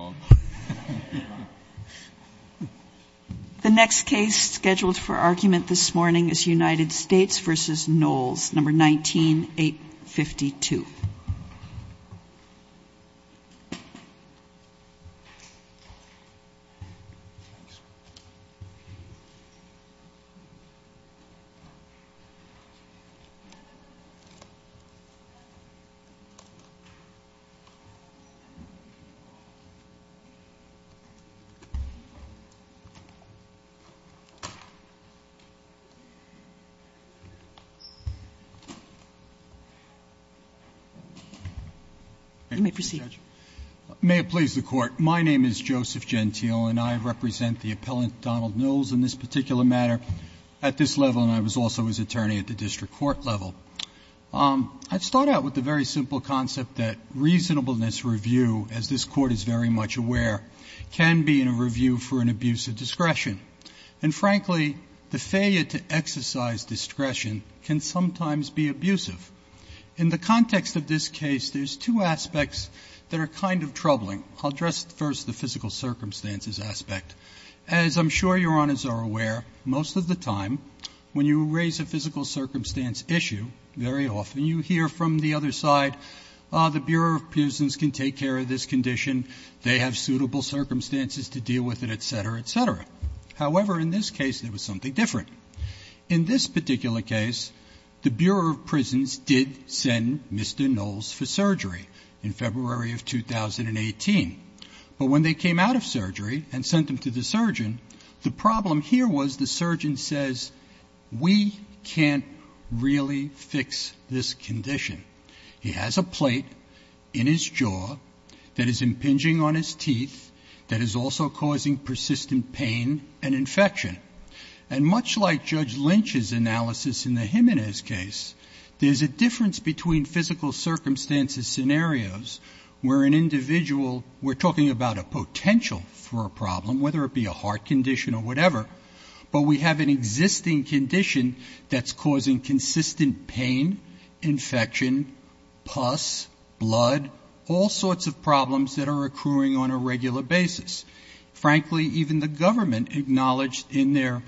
Grove and pen palm plant. The next case scheduled for argument this morning is U.S. v. Knolls, 19 0852. The next case scheduled for argument this morning is U.S. v. Knolls, 19 0852. You may proceed. May it please the Court. My name is Joseph Gentile, and I represent the appellant, Donald Knolls, in this particular matter at this level, and I was also his attorney at the district court level. I'd start out with the very simple concept that reasonableness review, as this Court is very much aware, can be in a review for an abuse of discretion. And frankly, the failure to exercise discretion can sometimes be abusive. In the context of this case, there's two aspects that are kind of troubling. I'll address first the physical circumstances aspect. As I'm sure Your Honors are aware, most of the time when you raise a physical circumstance issue, very often you hear from the other side, the Bureau of Prisons can take care of this condition, they have suitable circumstances to deal with it, et cetera, et cetera. However, in this case, there was something different. In this particular case, the Bureau of Prisons did send Mr. Knolls for surgery in February of 2018, but when they came out of surgery and sent him to the surgeon, the problem here was the surgeon says, we can't really fix this condition. He has a plate in his jaw that is impinging on his teeth that is also causing persistent pain and infection. And much like Judge Lynch's analysis in the Jimenez case, there's a difference between physical circumstances scenarios where an individual, we're talking about a potential for a problem, whether it be a heart condition or whatever, but we have an existing condition that's causing consistent pain, infection, pus, blood, all sorts of problems that are occurring on a regular basis. Frankly, even the government acknowledged in their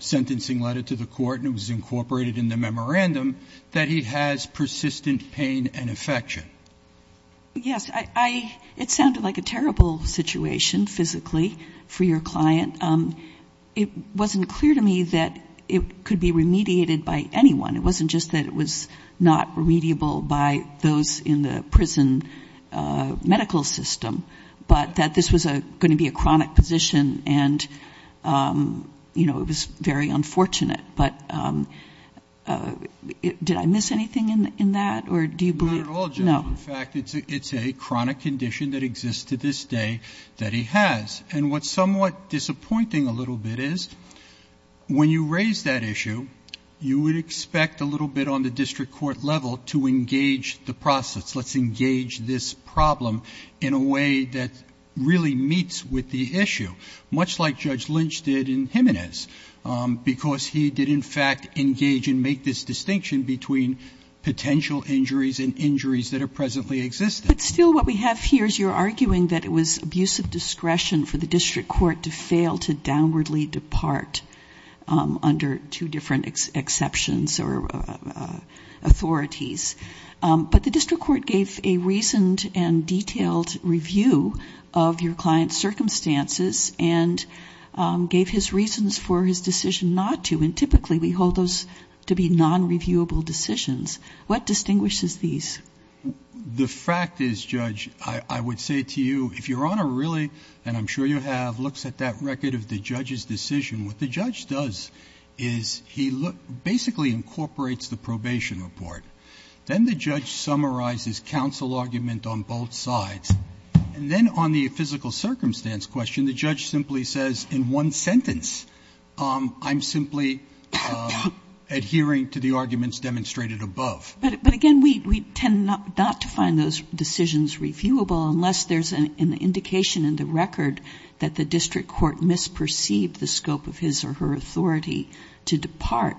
sentencing letter to the court, and it was incorporated in the memorandum, that he has persistent pain and infection. Yes, it sounded like a terrible situation physically for your client. It wasn't clear to me that it could be remediated by anyone. It wasn't just that it was not remediable by those in the prison medical system, but that this was going to be a chronic position and it was very unfortunate. But did I miss anything in that, or do you believe- Not at all, in fact, it's a chronic condition that exists to this day that he has. And what's somewhat disappointing a little bit is, when you raise that issue, you would expect a little bit on the district court level to engage the process. Let's engage this problem in a way that really meets with the issue. Much like Judge Lynch did in Jimenez, because he did in fact engage and make this distinction between potential injuries and injuries that are presently existing. But still what we have here is you're arguing that it was abuse of discretion for the district court to fail to downwardly depart under two different exceptions or authorities, but the district court gave a reasoned and detailed review of your client's circumstances and gave his reasons for his decision not to, and typically we hold those to be non-reviewable decisions. What distinguishes these? The fact is, Judge, I would say to you, if your honor really, and I'm sure you have, looks at that record of the judge's decision, what the judge does is he basically incorporates the probation report. Then the judge summarizes counsel argument on both sides. And then on the physical circumstance question, the judge simply says, in one sentence, I'm simply adhering to the arguments demonstrated above. But again, we tend not to find those decisions reviewable unless there's an indication in the record that the district court misperceived the scope of his or her authority to depart.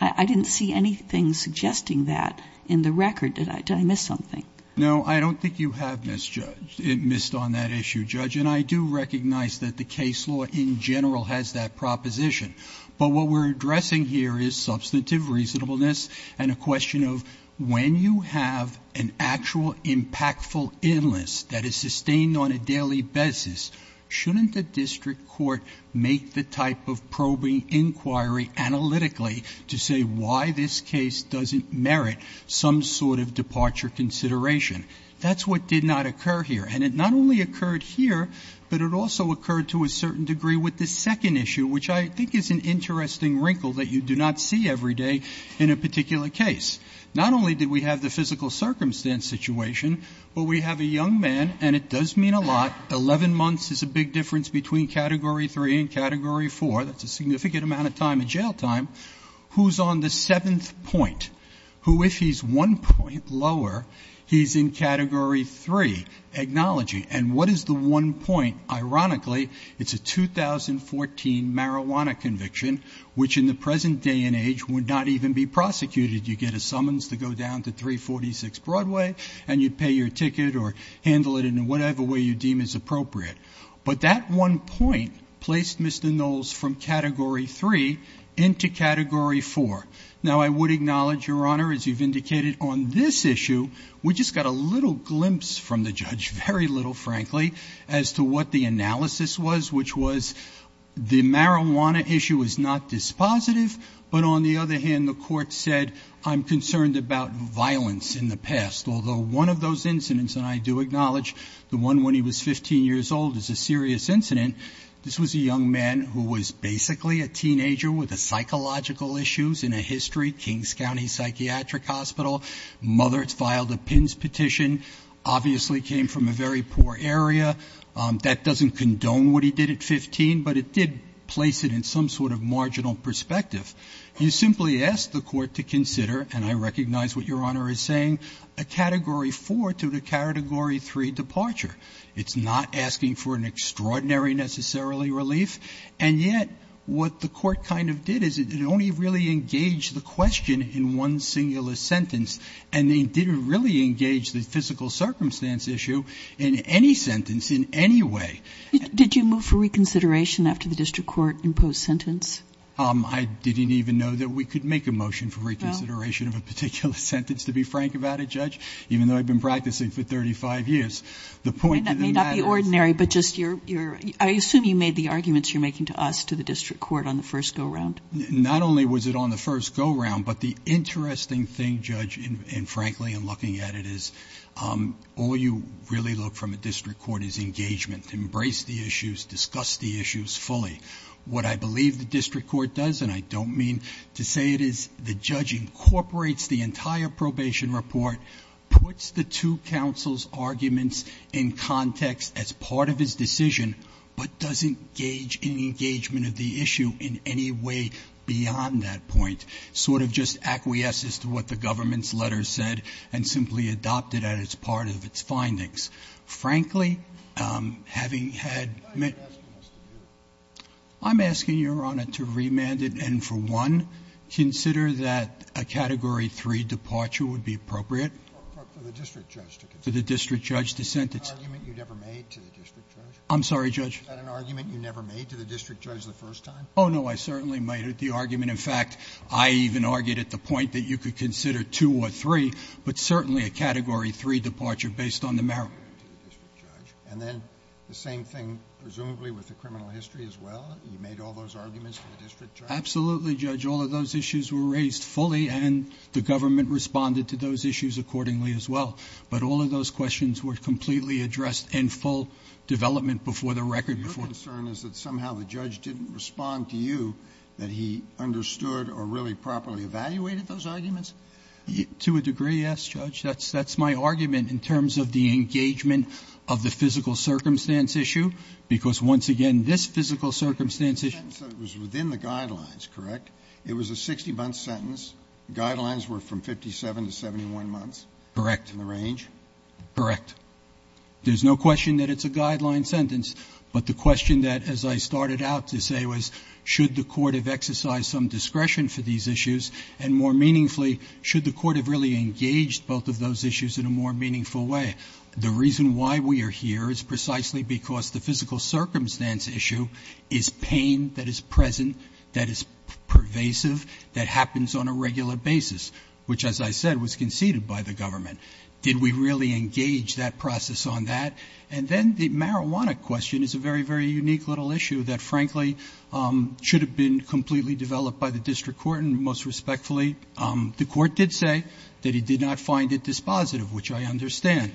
I didn't see anything suggesting that in the record. Did I miss something? No, I don't think you have misjudged, missed on that issue, Judge. And I do recognize that the case law in general has that proposition. But what we're addressing here is substantive reasonableness and a question of when you have an actual impactful in this that is sustained on a daily basis, shouldn't the district court make the type of probing inquiry analytically to say why this case doesn't merit some sort of departure consideration? That's what did not occur here. And it not only occurred here, but it also occurred to a certain degree with the second issue, which I think is an interesting wrinkle that you do not see every day in a particular case. Not only did we have the physical circumstance situation, but we have a young man, and it does mean a lot, 11 months is a big difference between category three and category four, that's a significant amount of time in jail time, who's on the seventh point, who if he's one point lower, he's in category three. Acknowledging, and what is the one point? Ironically, it's a 2014 marijuana conviction, which in the present day and age would not even be prosecuted. You get a summons to go down to 346 Broadway, and you'd pay your ticket or handle it in whatever way you deem is appropriate. But that one point placed Mr. Knowles from category three into category four. Now I would acknowledge, Your Honor, as you've indicated on this issue, we just got a little glimpse from the judge, very little frankly, as to what the analysis was, which was the marijuana issue is not dispositive. But on the other hand, the court said, I'm concerned about violence in the past. Although one of those incidents, and I do acknowledge the one when he was 15 years old is a serious incident. This was a young man who was basically a teenager with a psychological issues in a history Kings County Psychiatric Hospital. Mother filed a pins petition, obviously came from a very poor area. That doesn't condone what he did at 15, but it did place it in some sort of marginal perspective. You simply ask the court to consider, and I recognize what Your Honor is saying, a category four to the category three departure. It's not asking for an extraordinary necessarily relief. And yet, what the court kind of did is it only really engaged the question in one singular sentence. And they didn't really engage the physical circumstance issue in any sentence in any way. Did you move for reconsideration after the district court imposed sentence? I didn't even know that we could make a motion for reconsideration of a particular sentence, to be frank about it, Judge. Even though I've been practicing for 35 years. The point of the matter is- The ordinary, but just your, I assume you made the arguments you're making to us, to the district court on the first go round. Not only was it on the first go round, but the interesting thing, Judge, and frankly, in looking at it is, all you really look from a district court is engagement, embrace the issues, discuss the issues fully. What I believe the district court does, and I don't mean to say it is, the judge incorporates the entire probation report, puts the two counsel's arguments in context as part of his decision, but doesn't gauge any engagement of the issue in any way beyond that point. Sort of just acquiesces to what the government's letter said, and simply adopted that as part of its findings. Frankly, having had- Why are you asking us to do it? I'm asking your honor to remand it, and for one, consider that a category three departure would be appropriate. For the district judge to consider? For the district judge to sentence. An argument you never made to the district judge? I'm sorry, Judge? Was that an argument you never made to the district judge the first time? No, I certainly made it. The argument, in fact, I even argued at the point that you could consider two or three, but certainly a category three departure based on the merit of the district judge. And then the same thing, presumably, with the criminal history as well? You made all those arguments to the district judge? Absolutely, Judge. All of those issues were raised fully, and the government responded to those issues accordingly as well. But all of those questions were completely addressed in full development before the record. Your concern is that somehow the judge didn't respond to you, that he understood or really properly evaluated those arguments? To a degree, yes, Judge. That's my argument in terms of the engagement of the physical circumstance issue. Because once again, this physical circumstance issue- It was in the guidelines, correct? It was a 60-month sentence. Guidelines were from 57 to 71 months. Correct. In the range? Correct. There's no question that it's a guideline sentence. But the question that, as I started out to say, was should the court have exercised some discretion for these issues? And more meaningfully, should the court have really engaged both of those issues in a more meaningful way? The reason why we are here is precisely because the physical circumstance issue is pain that is present, that is pervasive, that happens on a regular basis, which, as I said, was conceded by the government. Did we really engage that process on that? And then the marijuana question is a very, very unique little issue that, frankly, should have been completely developed by the district court, and most respectfully, the court did say that it did not find it dispositive, which I understand.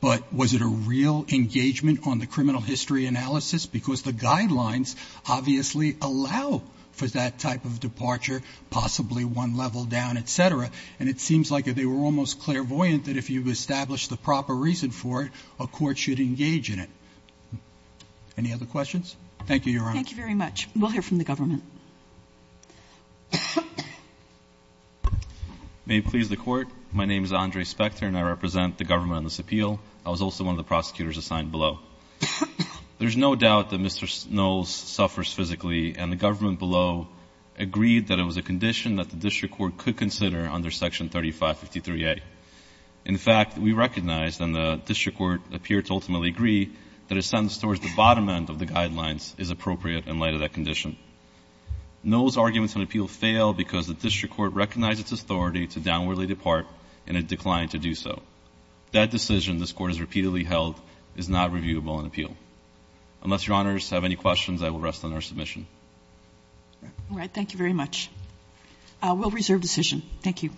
But was it a real engagement on the criminal history analysis? Because the guidelines obviously allow for that type of departure, possibly one level down, etc. And it seems like they were almost clairvoyant that if you established the proper reason for it, a court should engage in it. Any other questions? Thank you, Your Honor. Thank you very much. We'll hear from the government. May it please the court, my name is Andre Spector, and I represent the government on this appeal. I was also one of the prosecutors assigned below. There's no doubt that Mr. Knowles suffers physically, and the government below agreed that it was a condition that the district court could consider under section 3553A. In fact, we recognized, and the district court appeared to ultimately agree, that a sentence towards the bottom end of the guidelines is appropriate in light of that condition. Knowles' arguments on appeal fail because the district court recognized its authority to downwardly depart, and it declined to do so. That decision, this court has repeatedly held, is not reviewable in appeal. Unless Your Honors have any questions, I will rest on our submission. All right, thank you very much. We'll reserve decision. Thank you.